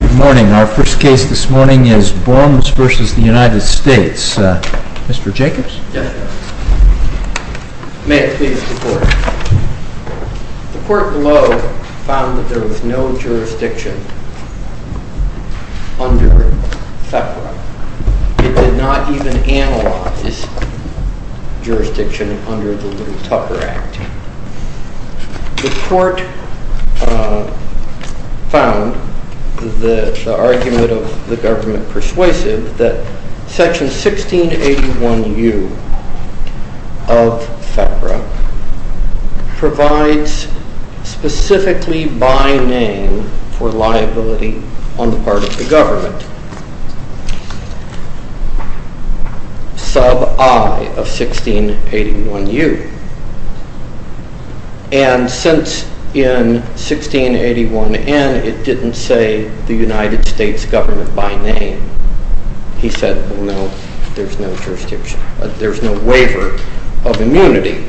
Good morning. Our first case this morning is BORMES v. United States. Mr. Jacobs? May I speak to the court? The court below found that there was no jurisdiction under THEPRA. It did not even analyze jurisdiction under the Lou Tucker Act. The court found the argument of the government persuasive that section 1681U of THEPRA provides specifically by name for liability on the part of the government. Sub I of 1681U. And since in 1681N it didn't say the United States government by name, he said no, there's no jurisdiction, there's no waiver of immunity.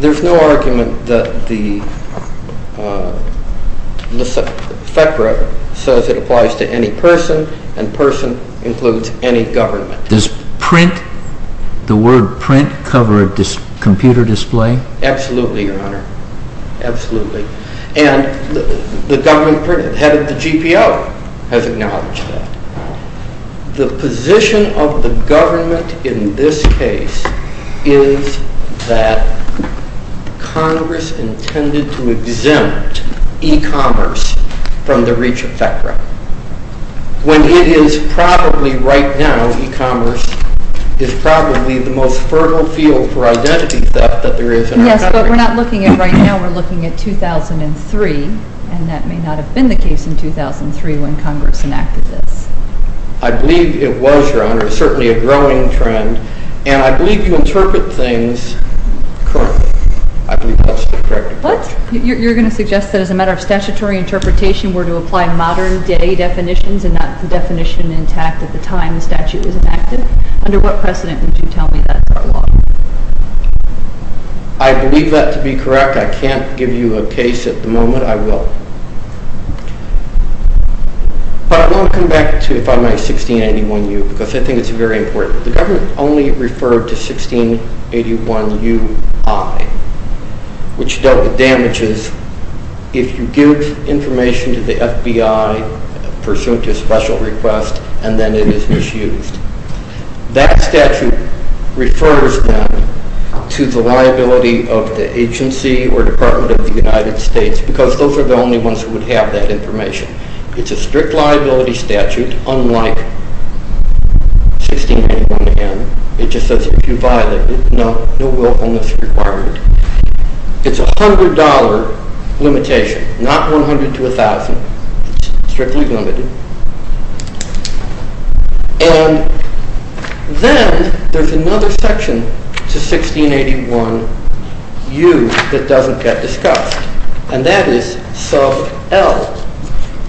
There's no argument that THEPRA says it applies to any person and person includes any government. Does the word print cover a computer display? Absolutely, Your Honor. Absolutely. And the government printed head of the GPO has acknowledged that. The position of the government in this case is that Congress intended to exempt e-commerce from the reach of THEPRA. When it is probably right now e-commerce is probably the most fertile field for identity theft that there is in our country. Yes, but we're not looking at right now, we're looking at 2003 and that may not have been the case in 2003 when Congress enacted this. I believe it was, Your Honor. It's certainly a growing trend and I believe you interpret things currently. What? You're going to suggest that as a matter of statutory interpretation we're to apply modern day definitions and not the definition intact at the time the statute was enacted? Under what precedent would you tell me that's our law? I believe that to be correct. I can't give you a case at the moment, I will. But I want to come back to 59681U because I think it's very important. The government only referred to 1681UI which dealt with damages if you give information to the FBI pursuant to a special request and then it is misused. That statute refers them to the liability of the agency or department of the United States because those are the only ones who would have that information. It's a strict liability statute unlike 1681N. It just says if you violate it, no will on this is required. It's a $100 limitation, not $100 to $1,000. It's strictly limited. And then there's another section to 1681U that doesn't get discussed and that is sub L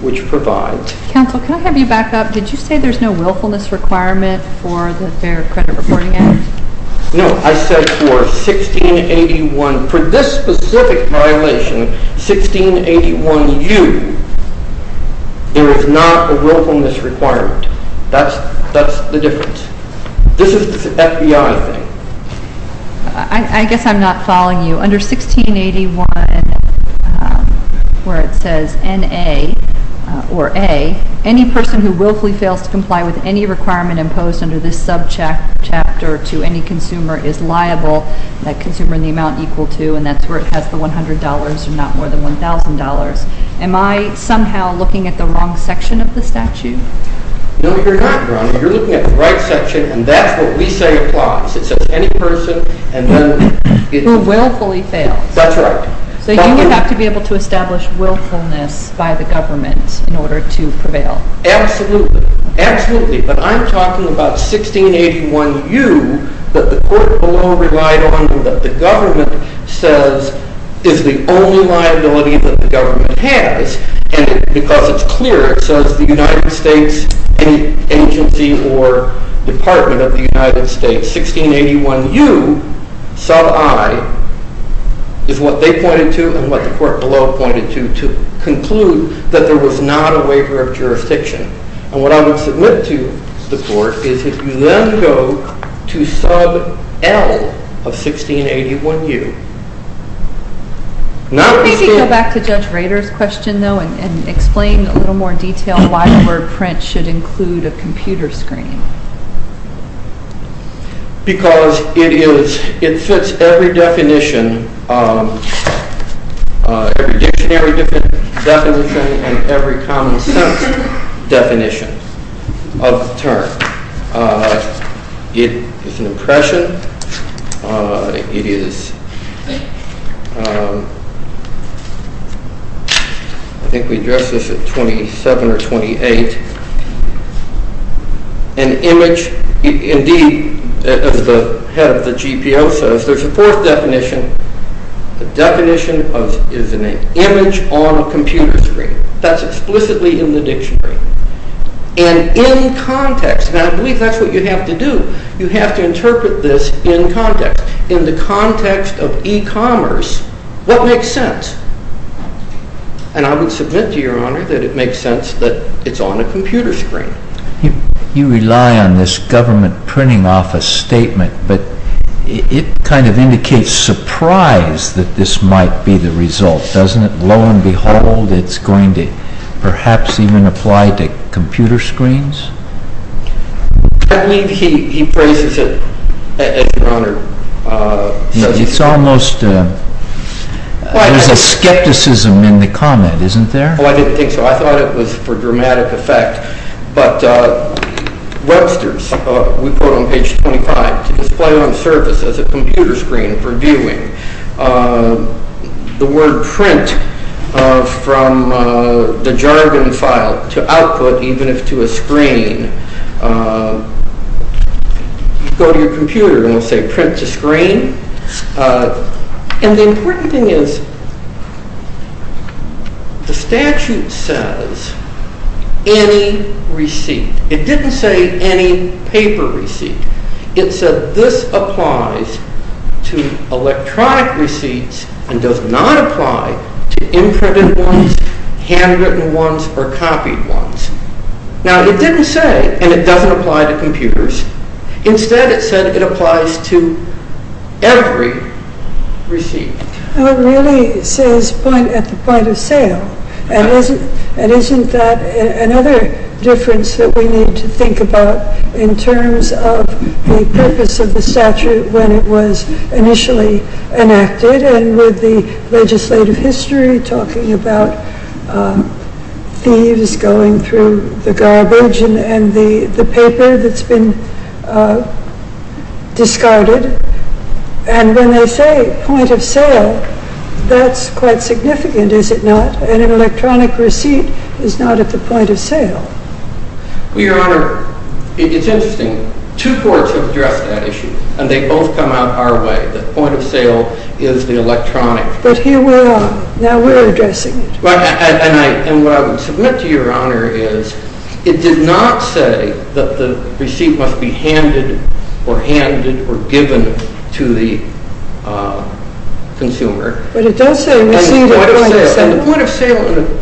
which provides... Counsel, can I have you back up? Did you say there's no willfulness requirement for the Fair Credit Reporting Act? No, I said for this specific violation, 1681U, there is not a willfulness requirement. That's the difference. This is the FBI thing. I guess I'm not following you. Under 1681 where it says NA or A, any person who willfully fails to comply with any requirement imposed under this sub chapter to any consumer is liable. That consumer and the amount equal to and that's where it has the $100 and not more than $1,000. Am I somehow looking at the wrong section of the statute? No, you're not. You're looking at the right section and that's what we say applies. It says any person and then... Who willfully fails. That's right. So you have to be able to establish willfulness by the government in order to prevail. Absolutely. But I'm talking about 1681U that the court below relied on and that the government says is the only liability that the government has. And because it's clear, it says the United States agency or department of the United States, 1681U sub I is what they pointed to and what the court below pointed to to conclude that there was not a waiver of jurisdiction. And what I would submit to the court is if you then go to sub L of 1681U. Maybe go back to Judge Rader's question though and explain in a little more detail why the word print should include a computer screen. Because it fits every definition, every dictionary definition and every common sense definition of the term. It is an impression. It is, I think we addressed this at 27 or 28, an image. Indeed, as the head of the GPO says, there's a fourth definition. The definition is an image on a computer screen. That's explicitly in the dictionary. And in context, and I believe that's what you have to do, you have to interpret this in context. In the context of e-commerce, what makes sense? And I would submit to your honor that it makes sense that it's on a computer screen. You rely on this government printing office statement, but it kind of indicates surprise that this might be the result, doesn't it? Lo and behold, it's going to perhaps even apply to computer screens? I believe he phrases it, your honor. It's almost, there's a skepticism in the comment, isn't there? Oh, I didn't think so. I thought it was for dramatic effect. But Webster's, we quote on page 25, to display on the surface as a computer screen for viewing. The word print from the jargon file to output, even if to a screen, go to your computer and it will say print to screen. And the important thing is the statute says any receipt. It didn't say any paper receipt. It said this applies to electronic receipts and does not apply to imprinted ones, handwritten ones, or copied ones. Now it didn't say, and it doesn't apply to computers. Instead it said it applies to every receipt. It really says point at the point of sale. And isn't that another difference that we need to think about in terms of the purpose of the statute when it was initially enacted? And with the legislative history talking about thieves going through the garbage and the paper that's been discarded. And when they say point of sale, that's quite significant, is it not? An electronic receipt is not at the point of sale. Well, your honor, it's interesting. Two courts have addressed that issue, and they both come out our way. The point of sale is the electronic. But here we are. Now we're addressing it. And what I would submit to your honor is it did not say that the receipt must be handed or handed or given to the consumer. But it does say receipt at point of sale. And the point of sale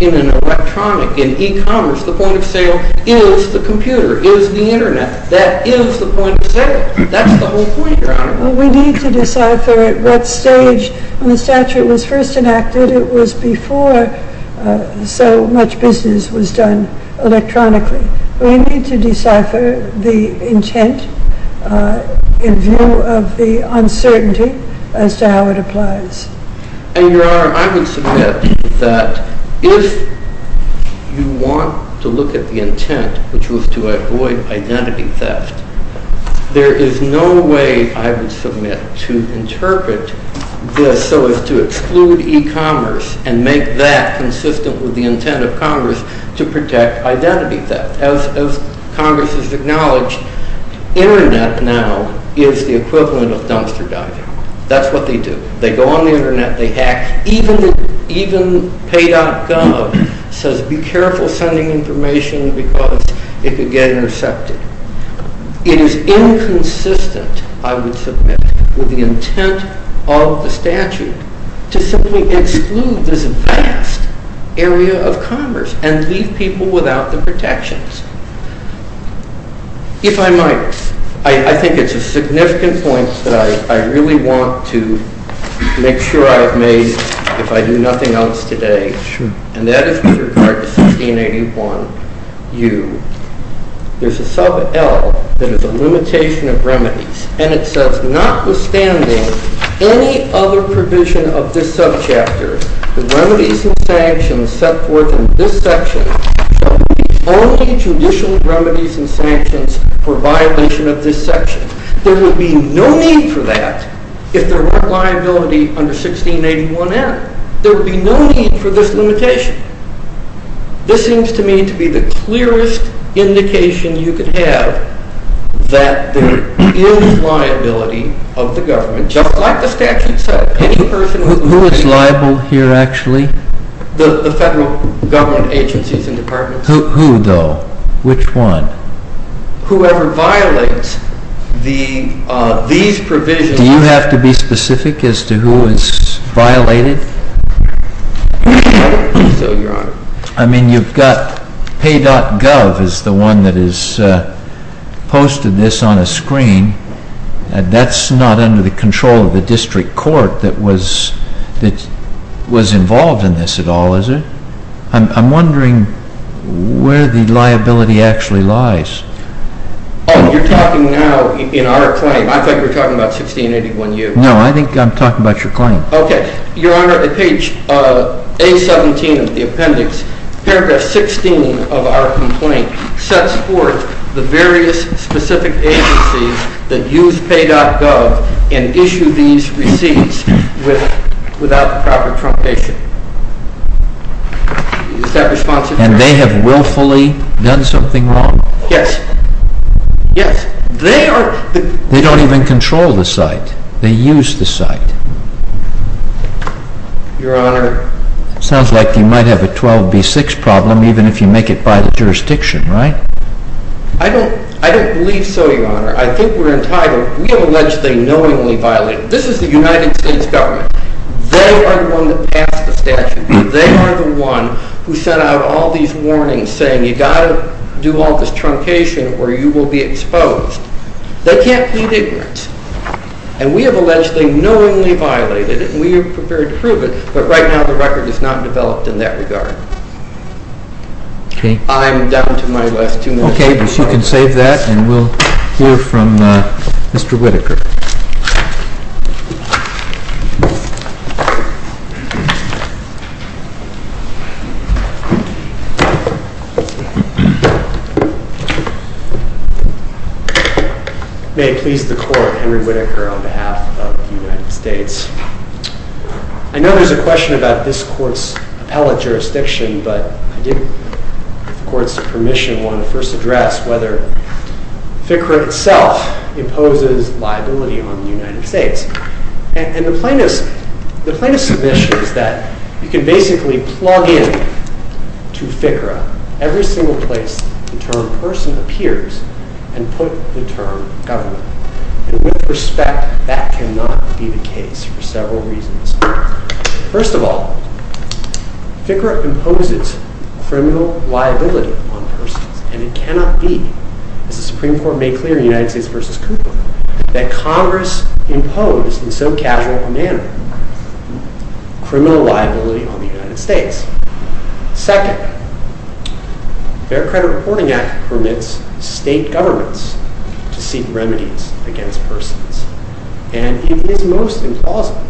in an electronic, in e-commerce, the point of sale is the computer, is the internet. That is the point of sale. That's the whole point, your honor. Well, we need to decipher at what stage when the statute was first enacted it was before so much business was done electronically. We need to decipher the intent in view of the uncertainty as to how it applies. Your honor, I would submit that if you want to look at the intent, which was to avoid identity theft, there is no way I would submit to interpret this so as to exclude e-commerce and make that consistent with the intent of Congress to protect identity theft. As Congress has acknowledged, internet now is the equivalent of dumpster diving. That's what they do. They go on the internet. They hack. Even pay.gov says be careful sending information because it could get intercepted. It is inconsistent, I would submit, with the intent of the statute to simply exclude this vast area of commerce and leave people without the protections. If I might, I think it's a significant point that I really want to make sure I've made if I do nothing else today, and that is with regard to 1681U. There's a sub L that is a limitation of remedies, and it says notwithstanding any other provision of this subchapter, the remedies and sanctions set forth in this section shall be the only judicial remedies and sanctions for violation of this section. There would be no need for that if there weren't liability under 1681N. There would be no need for this limitation. This seems to me to be the clearest indication you could have that there is liability of the government, just like the statute says. Who is liable here actually? The federal government agencies and departments. Who though? Which one? Whoever violates these provisions. Do you have to be specific as to who is violated? I don't think so, Your Honor. I mean, you've got pay.gov is the one that has posted this on a screen. That's not under the control of the district court that was involved in this at all, is it? I'm wondering where the liability actually lies. Oh, you're talking now in our claim. I thought you were talking about 1681U. No, I think I'm talking about your claim. Okay. Your Honor, page A17 of the appendix, paragraph 16 of our complaint sets forth the various specific agencies that use pay.gov and issue these receipts without proper truncation. Is that responsive? And they have willfully done something wrong? Yes. Yes. They are the They don't even control the site. They use the site. Your Honor. Sounds like you might have a 12B6 problem even if you make it by the jurisdiction, right? I don't believe so, Your Honor. I think we're entitled. We have alleged they knowingly violated. This is the United States government. They are the one that passed the statute. They are the one who sent out all these warnings saying you've got to do all this truncation or you will be exposed. They can't plead ignorant. And we have alleged they knowingly violated it and we are prepared to prove it, but right now the record is not developed in that regard. Okay. I'm down to my last two minutes. Okay. You can save that and we'll hear from Mr. Whitaker. May it please the court, Henry Whitaker on behalf of the United States. I know there's a question about this court's appellate jurisdiction, but I did, with the court's permission, want to first address whether FCRA itself imposes liability on the United States. And the plaintiff's submission is that you can basically plug in to FCRA every single place the term person appears and put the term government. And with respect, that cannot be the case for several reasons. First of all, FCRA imposes criminal liability on persons and it cannot be, as the Supreme Court made clear in United States v. Cooper, that Congress imposed in so casual a manner criminal liability on the United States. Second, the Fair Credit Reporting Act permits state governments to seek remedies against persons. And it is most implausible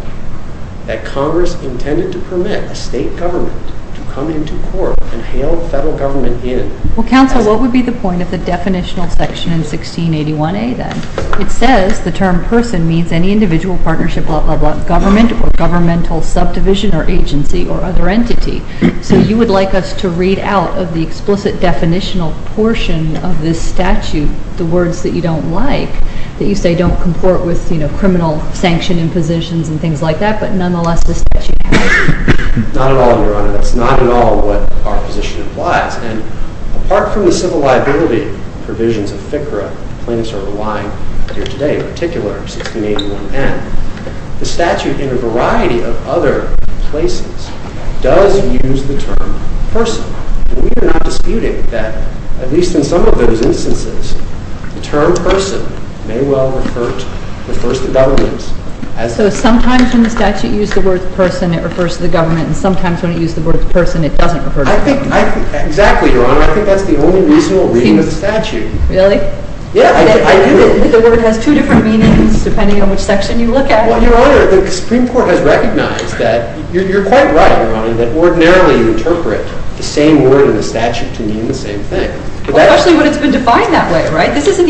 that Congress intended to permit a state government to come into court and hail federal government in. Well, counsel, what would be the point of the definitional section in 1681A, then? It says the term person means any individual, partnership, blah, blah, blah, government or governmental subdivision or agency or other entity. So you would like us to read out of the explicit definitional portion of this statute the words that you don't like, that you say don't comport with, you know, criminal sanction impositions and things like that, but nonetheless the statute has them. Not at all, Your Honor. That's not at all what our position implies. And apart from the civil liability provisions of FCRA, plaintiffs are relying here today, in particular 1681N, the statute in a variety of other places does use the term person. And we are not disputing that, at least in some of those instances, the term person may well refer to, refers to governments. So sometimes when the statute used the word person it refers to the government and sometimes when it used the word person it doesn't refer to the government. Exactly, Your Honor. I think that's the only reasonable reading of the statute. Really? Yeah, I do. I think the word has two different meanings depending on which section you look at. Well, Your Honor, the Supreme Court has recognized that you're quite right, Your Honor, that ordinarily you interpret the same word in the statute to mean the same thing. Well, especially when it's been defined that way, right? This isn't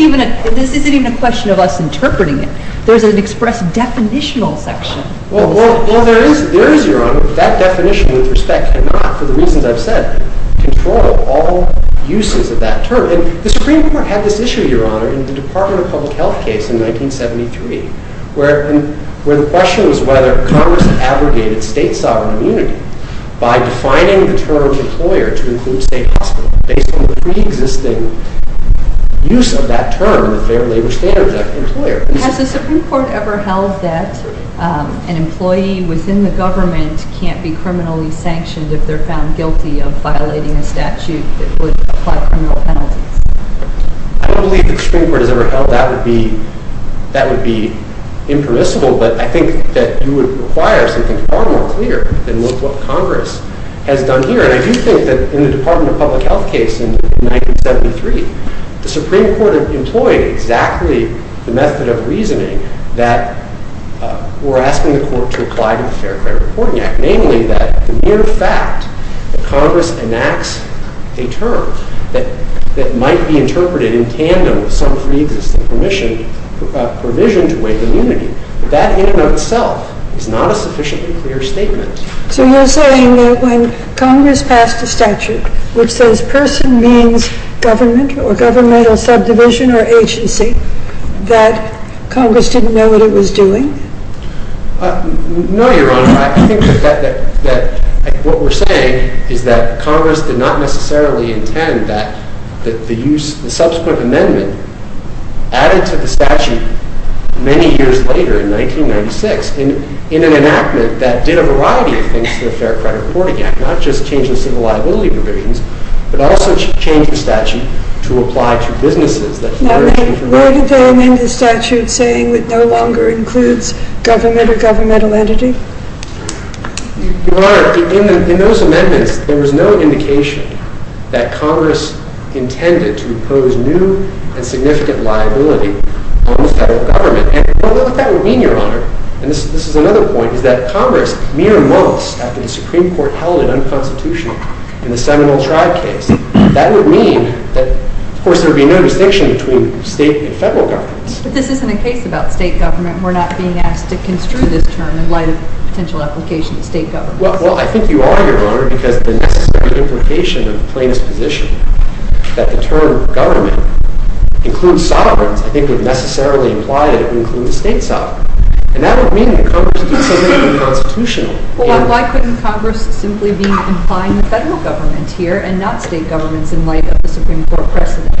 even a question of us interpreting it. There's an express definitional section. Well, there is, Your Honor. That definition, with respect, cannot, for the reasons I've said, control all uses of that term. And the Supreme Court had this issue, Your Honor, in the Department of Public Health case in 1973 where the question was whether Congress abrogated state sovereign immunity by defining the term employer to include state hospital based on the pre-existing use of that term in the Fair Labor Standards Act, employer. Has the Supreme Court ever held that an employee within the government can't be criminally sanctioned if they're found guilty of violating a statute that would apply criminal penalties? I don't believe the Supreme Court has ever held that would be impermissible, but I think that you would require something far more clear than what Congress has done here. And I do think that in the Department of Public Health case in 1973, the Supreme Court employed exactly the method of reasoning that we're asking the court to apply to the Fair Credit Reporting Act, namely that the mere fact that Congress enacts a term that might be interpreted in tandem with some pre-existing provision to waive immunity, that in and of itself is not a sufficiently clear statement. So you're saying that when Congress passed a statute which says person means government or governmental subdivision or agency, that Congress didn't know what it was doing? No, Your Honor. I think that what we're saying is that Congress did not necessarily intend that the subsequent amendment added to the statute many years later in 1996 in an enactment that did a variety of things to the Fair Credit Reporting Act, not just change the civil liability provisions, but also change the statute to apply to businesses. Now then, where did they amend the statute saying it no longer includes government or governmental entity? Your Honor, in those amendments, there was no indication that Congress intended to impose new and significant liability on the federal government. And what that would mean, Your Honor, and this is another point, is that Congress, mere months after the Supreme Court held it unconstitutional in the Seminole Tribe case, that would mean that, of course, there would be no distinction between state and federal governments. But this isn't a case about state government. We're not being asked to construe this term in light of potential application to state government. Well, I think you are, Your Honor, because the necessary implication of the plaintiff's position that the term government includes sovereigns, I think, would necessarily imply that it would include the state sovereign. And that would mean that Congress did something unconstitutional. Well, why couldn't Congress simply be implying the federal government here and not state governments in light of the Supreme Court precedent?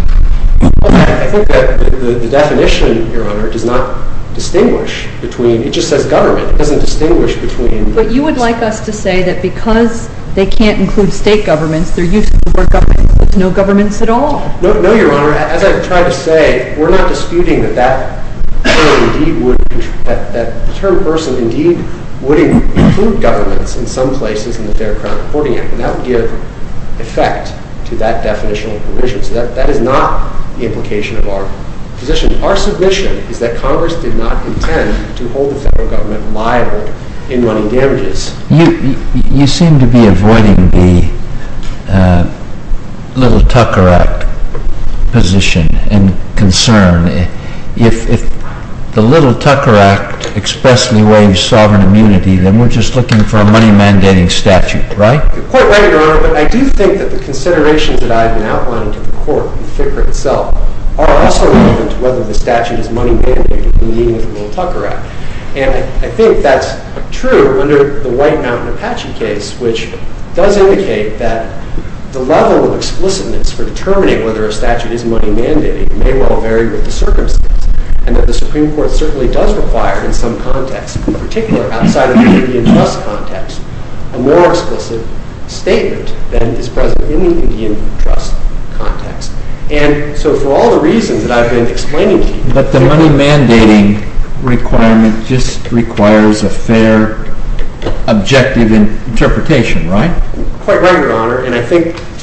Well, I think that the definition, Your Honor, does not distinguish between. It just says government. It doesn't distinguish between. But you would like us to say that because they can't include state governments, they're used to the word government. There's no governments at all. No, Your Honor. As I've tried to say, we're not disputing that that term indeed would include governments in some places in the Fair Crowd Reporting Act. And that would give effect to that definitional provision. So that is not the implication of our position. Our submission is that Congress did not intend to hold the federal government liable in running damages. You seem to be avoiding the Little Tucker Act position and concern. If the Little Tucker Act expressly waives sovereign immunity, then we're just looking for a money-mandating statute, right? You're quite right, Your Honor. But I do think that the considerations that I've been outlining to the Court and FCRA itself are also relevant to whether the statute is money-mandating in the meaning of the Little Tucker Act. And I think that's true under the White Mountain Apache case, which does indicate that the level of explicitness for determining whether a statute is money-mandating may well vary with the circumstances, and that the Supreme Court certainly does require in some contexts, in particular outside of the Indian trust context, a more explicit statement than is present in the Indian trust context. And so for all the reasons that I've been explaining to you— But the money-mandating requirement just requires a fair, objective interpretation, right? Quite right, Your Honor.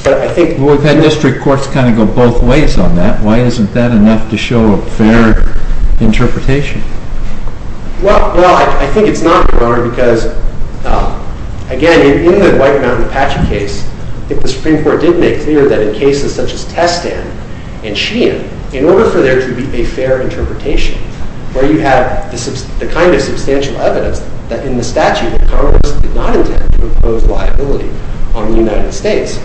Well, we've had district courts kind of go both ways on that. Why isn't that enough to show a fair interpretation? Well, I think it's not, Your Honor, because, again, in the White Mountain Apache case, I think the Supreme Court did make clear that in cases such as Testan and Sheehan, in order for there to be a fair interpretation, where you have the kind of substantial evidence that in the statute that Congress did not intend to impose liability on the United States,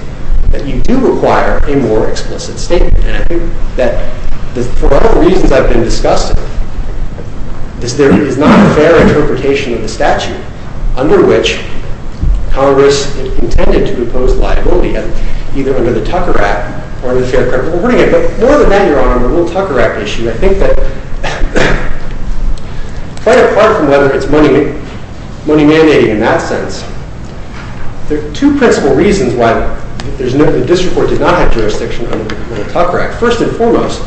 that you do require a more explicit statement. And I think that for all the reasons I've been discussing, there is not a fair interpretation of the statute under which Congress intended to impose liability, either under the Tucker Act or the Fair Credit Reporting Act. But more than that, Your Honor, on the little Tucker Act issue, I think that, quite apart from whether it's money-mandating in that sense, there are two principal reasons why the district court did not have jurisdiction under the little Tucker Act. First and foremost,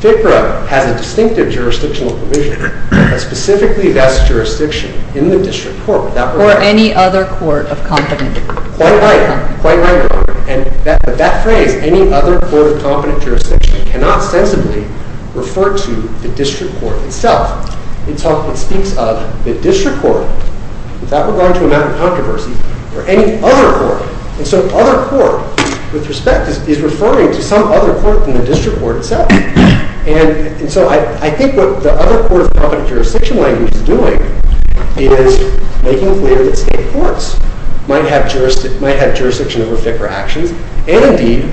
FCRA has a distinctive jurisdictional provision, a specifically-vested jurisdiction in the district court. Or any other court of competence. Quite right, Your Honor. But that phrase, any other court of competent jurisdiction, cannot sensibly refer to the district court itself. It speaks of the district court, without regard to a matter of controversy, or any other court. And so other court, with respect, is referring to some other court than the district court itself. And so I think what the other court of competent jurisdiction language is doing is making clear that state courts might have jurisdiction over FCRA actions. And indeed,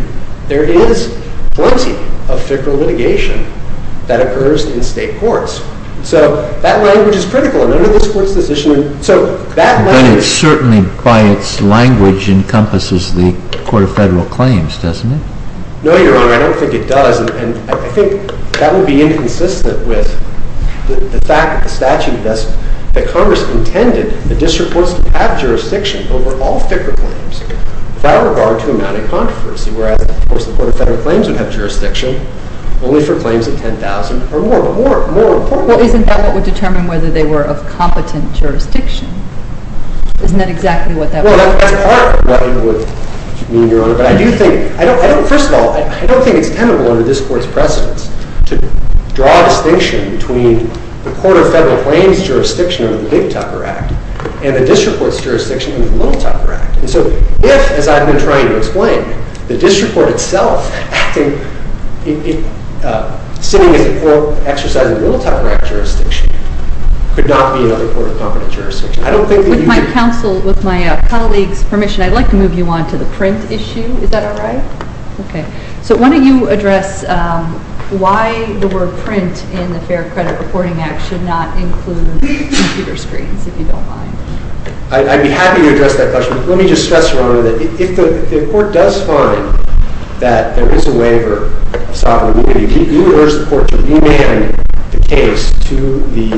there is plenty of FCRA litigation that occurs in state courts. So that language is critical. None of this court's decision— But it certainly, by its language, encompasses the Court of Federal Claims, doesn't it? No, Your Honor, I don't think it does. And I think that would be inconsistent with the fact that the statute does— that Congress intended the district courts to have jurisdiction over all FCRA claims, without regard to a matter of controversy. Whereas, of course, the Court of Federal Claims would have jurisdiction only for claims of 10,000 or more. But more important— Well, isn't that what would determine whether they were of competent jurisdiction? Isn't that exactly what that would mean? Well, that's part of what it would mean, Your Honor. But I do think— First of all, I don't think it's tenable under this Court's precedence to draw a distinction between the Court of Federal Claims' jurisdiction over the Big Tucker Act and the district court's jurisdiction over the Little Tucker Act. And so if, as I've been trying to explain, the district court itself acting— sitting as—exercising Little Tucker Act jurisdiction could not be another court of competent jurisdiction. I don't think that you could— With my colleagues' permission, I'd like to move you on to the print issue. Is that all right? Okay. So why don't you address why the word print in the Fair Credit Reporting Act should not include computer screens, if you don't mind. I'd be happy to address that question. Let me just stress, Your Honor, that if the court does find that there is a waiver of sovereignty, you would urge the court to remand the case to the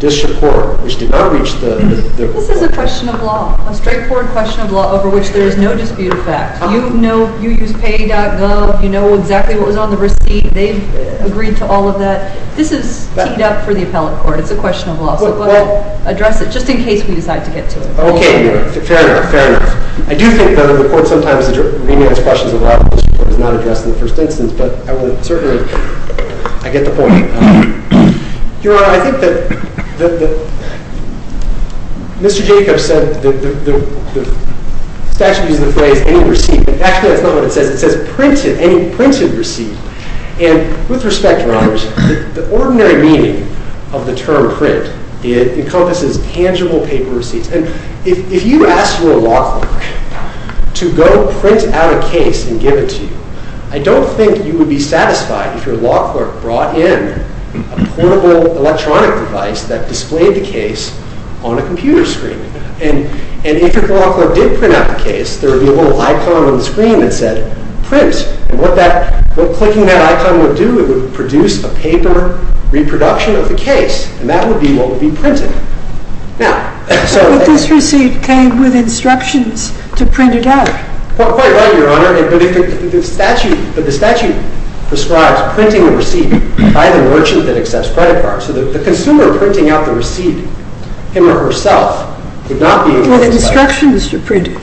district court, which did not reach the— This is a question of law, a straightforward question of law over which there is no dispute of fact. You know—you use pay.gov. You know exactly what was on the receipt. They've agreed to all of that. This is teed up for the appellate court. It's a question of law, so we'll address it just in case we decide to get to it. Okay. Fair enough. Fair enough. I do think that the court sometimes remands questions of law to the district court. It's not addressed in the first instance, but I would certainly—I get the point. Your Honor, I think that Mr. Jacobs said the statute uses the phrase any receipt. Actually, that's not what it says. It says printed, any printed receipt. And with respect, Your Honors, the ordinary meaning of the term print, it encompasses tangible paper receipts. And if you ask your law clerk to go print out a case and give it to you, I don't think you would be satisfied if your law clerk brought in a portable electronic device that displayed the case on a computer screen. And if your law clerk did print out the case, there would be a little icon on the screen that said print. And what that—what clicking that icon would do, it would produce a paper reproduction of the case. And that would be what would be printed. Now— But this receipt came with instructions to print it out. Quite right, Your Honor. But the statute prescribes printing the receipt by the merchant that accepts credit cards. So the consumer printing out the receipt, him or herself, would not be— With instructions to print it.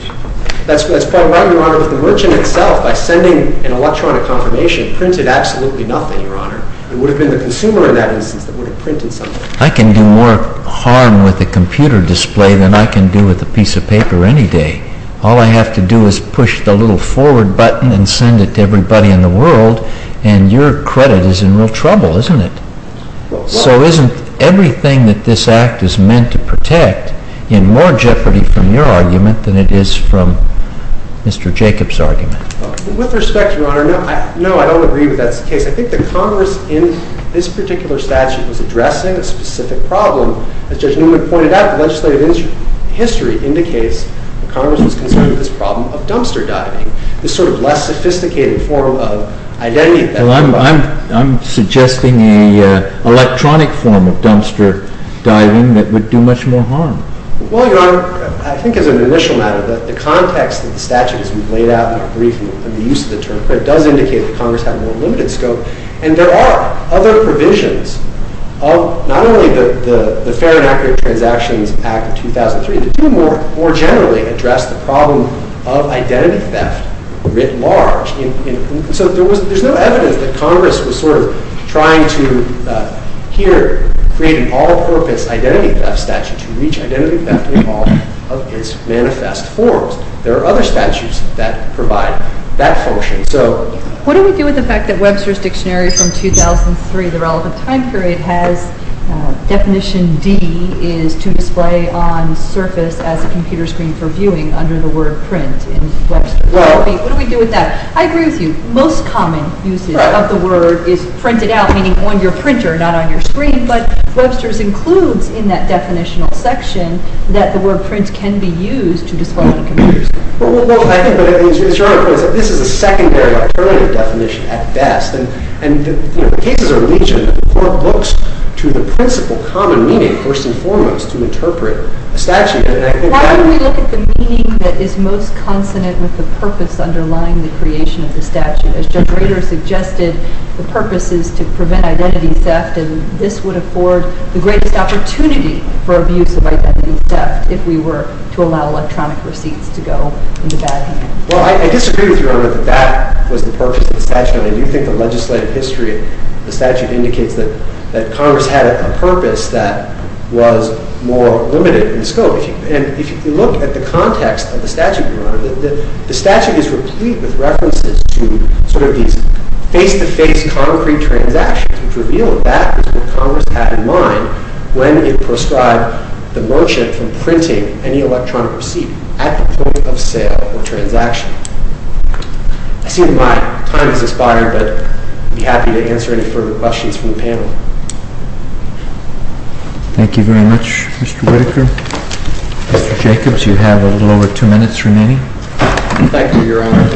That's quite right, Your Honor. But the merchant itself, by sending an electronic confirmation, printed absolutely nothing, Your Honor. It would have been the consumer in that instance that would have printed something. I can do more harm with a computer display than I can do with a piece of paper any day. All I have to do is push the little forward button and send it to everybody in the world, and your credit is in real trouble, isn't it? So isn't everything that this Act is meant to protect in more jeopardy from your argument than it is from Mr. Jacobs' argument? With respect, Your Honor, no, I don't agree that that's the case. I think the Congress in this particular statute was addressing a specific problem. As Judge Newman pointed out, the legislative history indicates that Congress was concerned with this problem of dumpster diving, this sort of less sophisticated form of identity theft. Well, I'm suggesting an electronic form of dumpster diving that would do much more harm. Well, Your Honor, I think as an initial matter, the context that the statute has laid out in our brief and the use of the term does indicate that Congress had more limited scope. And there are other provisions of not only the Fair and Accurate Transactions Act of 2003, but to more generally address the problem of identity theft writ large. So there's no evidence that Congress was sort of trying to here create an all-purpose identity theft statute to reach identity theft in all of its manifest forms. There are other statutes that provide that function. What do we do with the fact that Webster's Dictionary from 2003, the relevant time period, has definition D is to display on surface as a computer screen for viewing under the word print in Webster's? What do we do with that? I agree with you. Most common usage of the word is printed out, meaning on your printer, not on your screen. But Webster's includes in that definitional section that the word print can be used to display on computers. Well, I think this is a secondary definition at best. And the cases of religion report books to the principal common meaning, first and foremost, to interpret a statute. Why don't we look at the meaning that is most consonant with the purpose underlying the creation of the statute? As Judge Rader suggested, the purpose is to prevent identity theft, and this would afford the greatest opportunity for abuse of identity theft if we were to allow electronic receipts to go into bad hands. Well, I disagree with you, Your Honor, that that was the purpose of the statute. I do think the legislative history of the statute indicates that Congress had a purpose that was more limited in scope. And if you look at the context of the statute, Your Honor, the statute is replete with references to sort of these face-to-face, concrete transactions, which reveal that Congress had in mind when it prescribed the merchant from printing any electronic receipt at the point of sale or transaction. I see that my time has expired, but I'd be happy to answer any further questions from the panel. Thank you very much, Mr. Whitaker. Mr. Jacobs, you have a little over two minutes remaining. Thank you, Your Honor.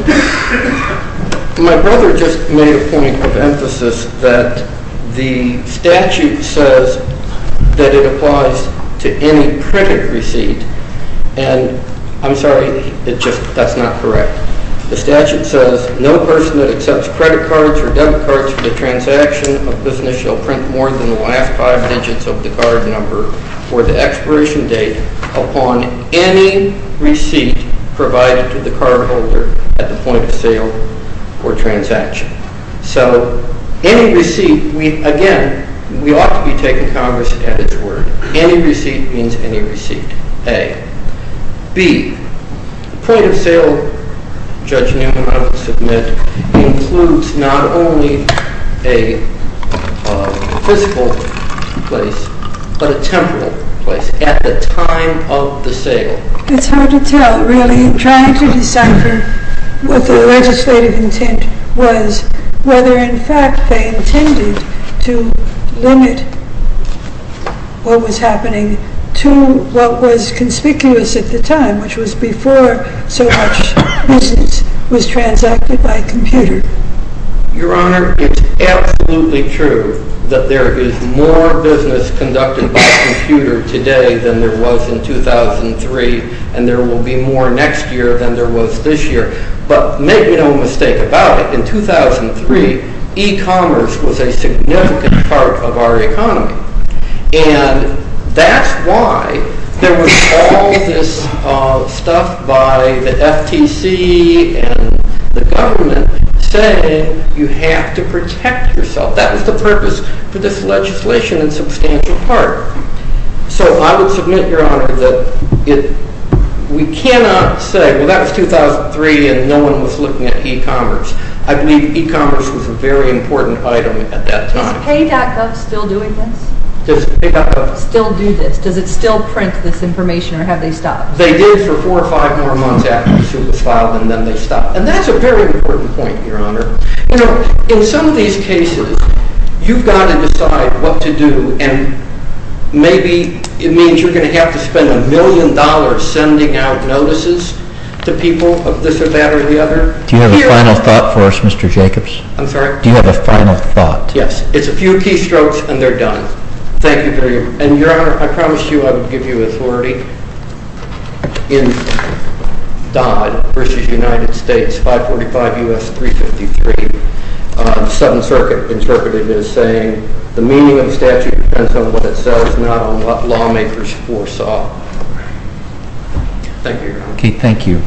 My brother just made a point of emphasis that the statute says that it applies to any printed receipt. And I'm sorry, that's not correct. The statute says no person that accepts credit cards or debit cards for the transaction of business shall print more than the last five digits of the card number or the expiration date upon any receipt provided to the cardholder at the point of sale or transaction. So, any receipt, again, we ought to be taking Congress at its word. Any receipt means any receipt, A. B, the point of sale, Judge Newman, I will submit, includes not only a fiscal place, but a temporal place at the time of the sale. It's hard to tell, really, trying to decipher what the legislative intent was, whether in fact they intended to limit what was happening to what was conspicuous at the time, which was before so much business was transacted by computer. Your Honor, it's absolutely true that there is more business conducted by computer today than there was in 2003, and there will be more next year than there was this year. But make no mistake about it, in 2003, e-commerce was a significant part of our economy. And that's why there was all this stuff by the FTC and the government saying you have to protect yourself. That was the purpose for this legislation in substantial part. So, I would submit, Your Honor, that we cannot say, well, that was 2003 and no one was looking at e-commerce. I believe e-commerce was a very important item at that time. Does pay.gov still do this? Does it still print this information, or have they stopped? They did for four or five more months after it was filed, and then they stopped. And that's a very important point, Your Honor. You know, in some of these cases, you've got to decide what to do, and maybe it means you're going to have to spend a million dollars sending out notices to people of this or that or the other. Do you have a final thought for us, Mr. Jacobs? I'm sorry? Do you have a final thought? Yes. It's a few key strokes, and they're done. Thank you very much. And, Your Honor, I promised you I would give you authority in Dodd v. United States 545 U.S. 353. The Seventh Circuit interpreted it as saying the meaning of the statute depends on what it says, not on what lawmakers foresaw. Thank you, Your Honor. Okay. Thank you.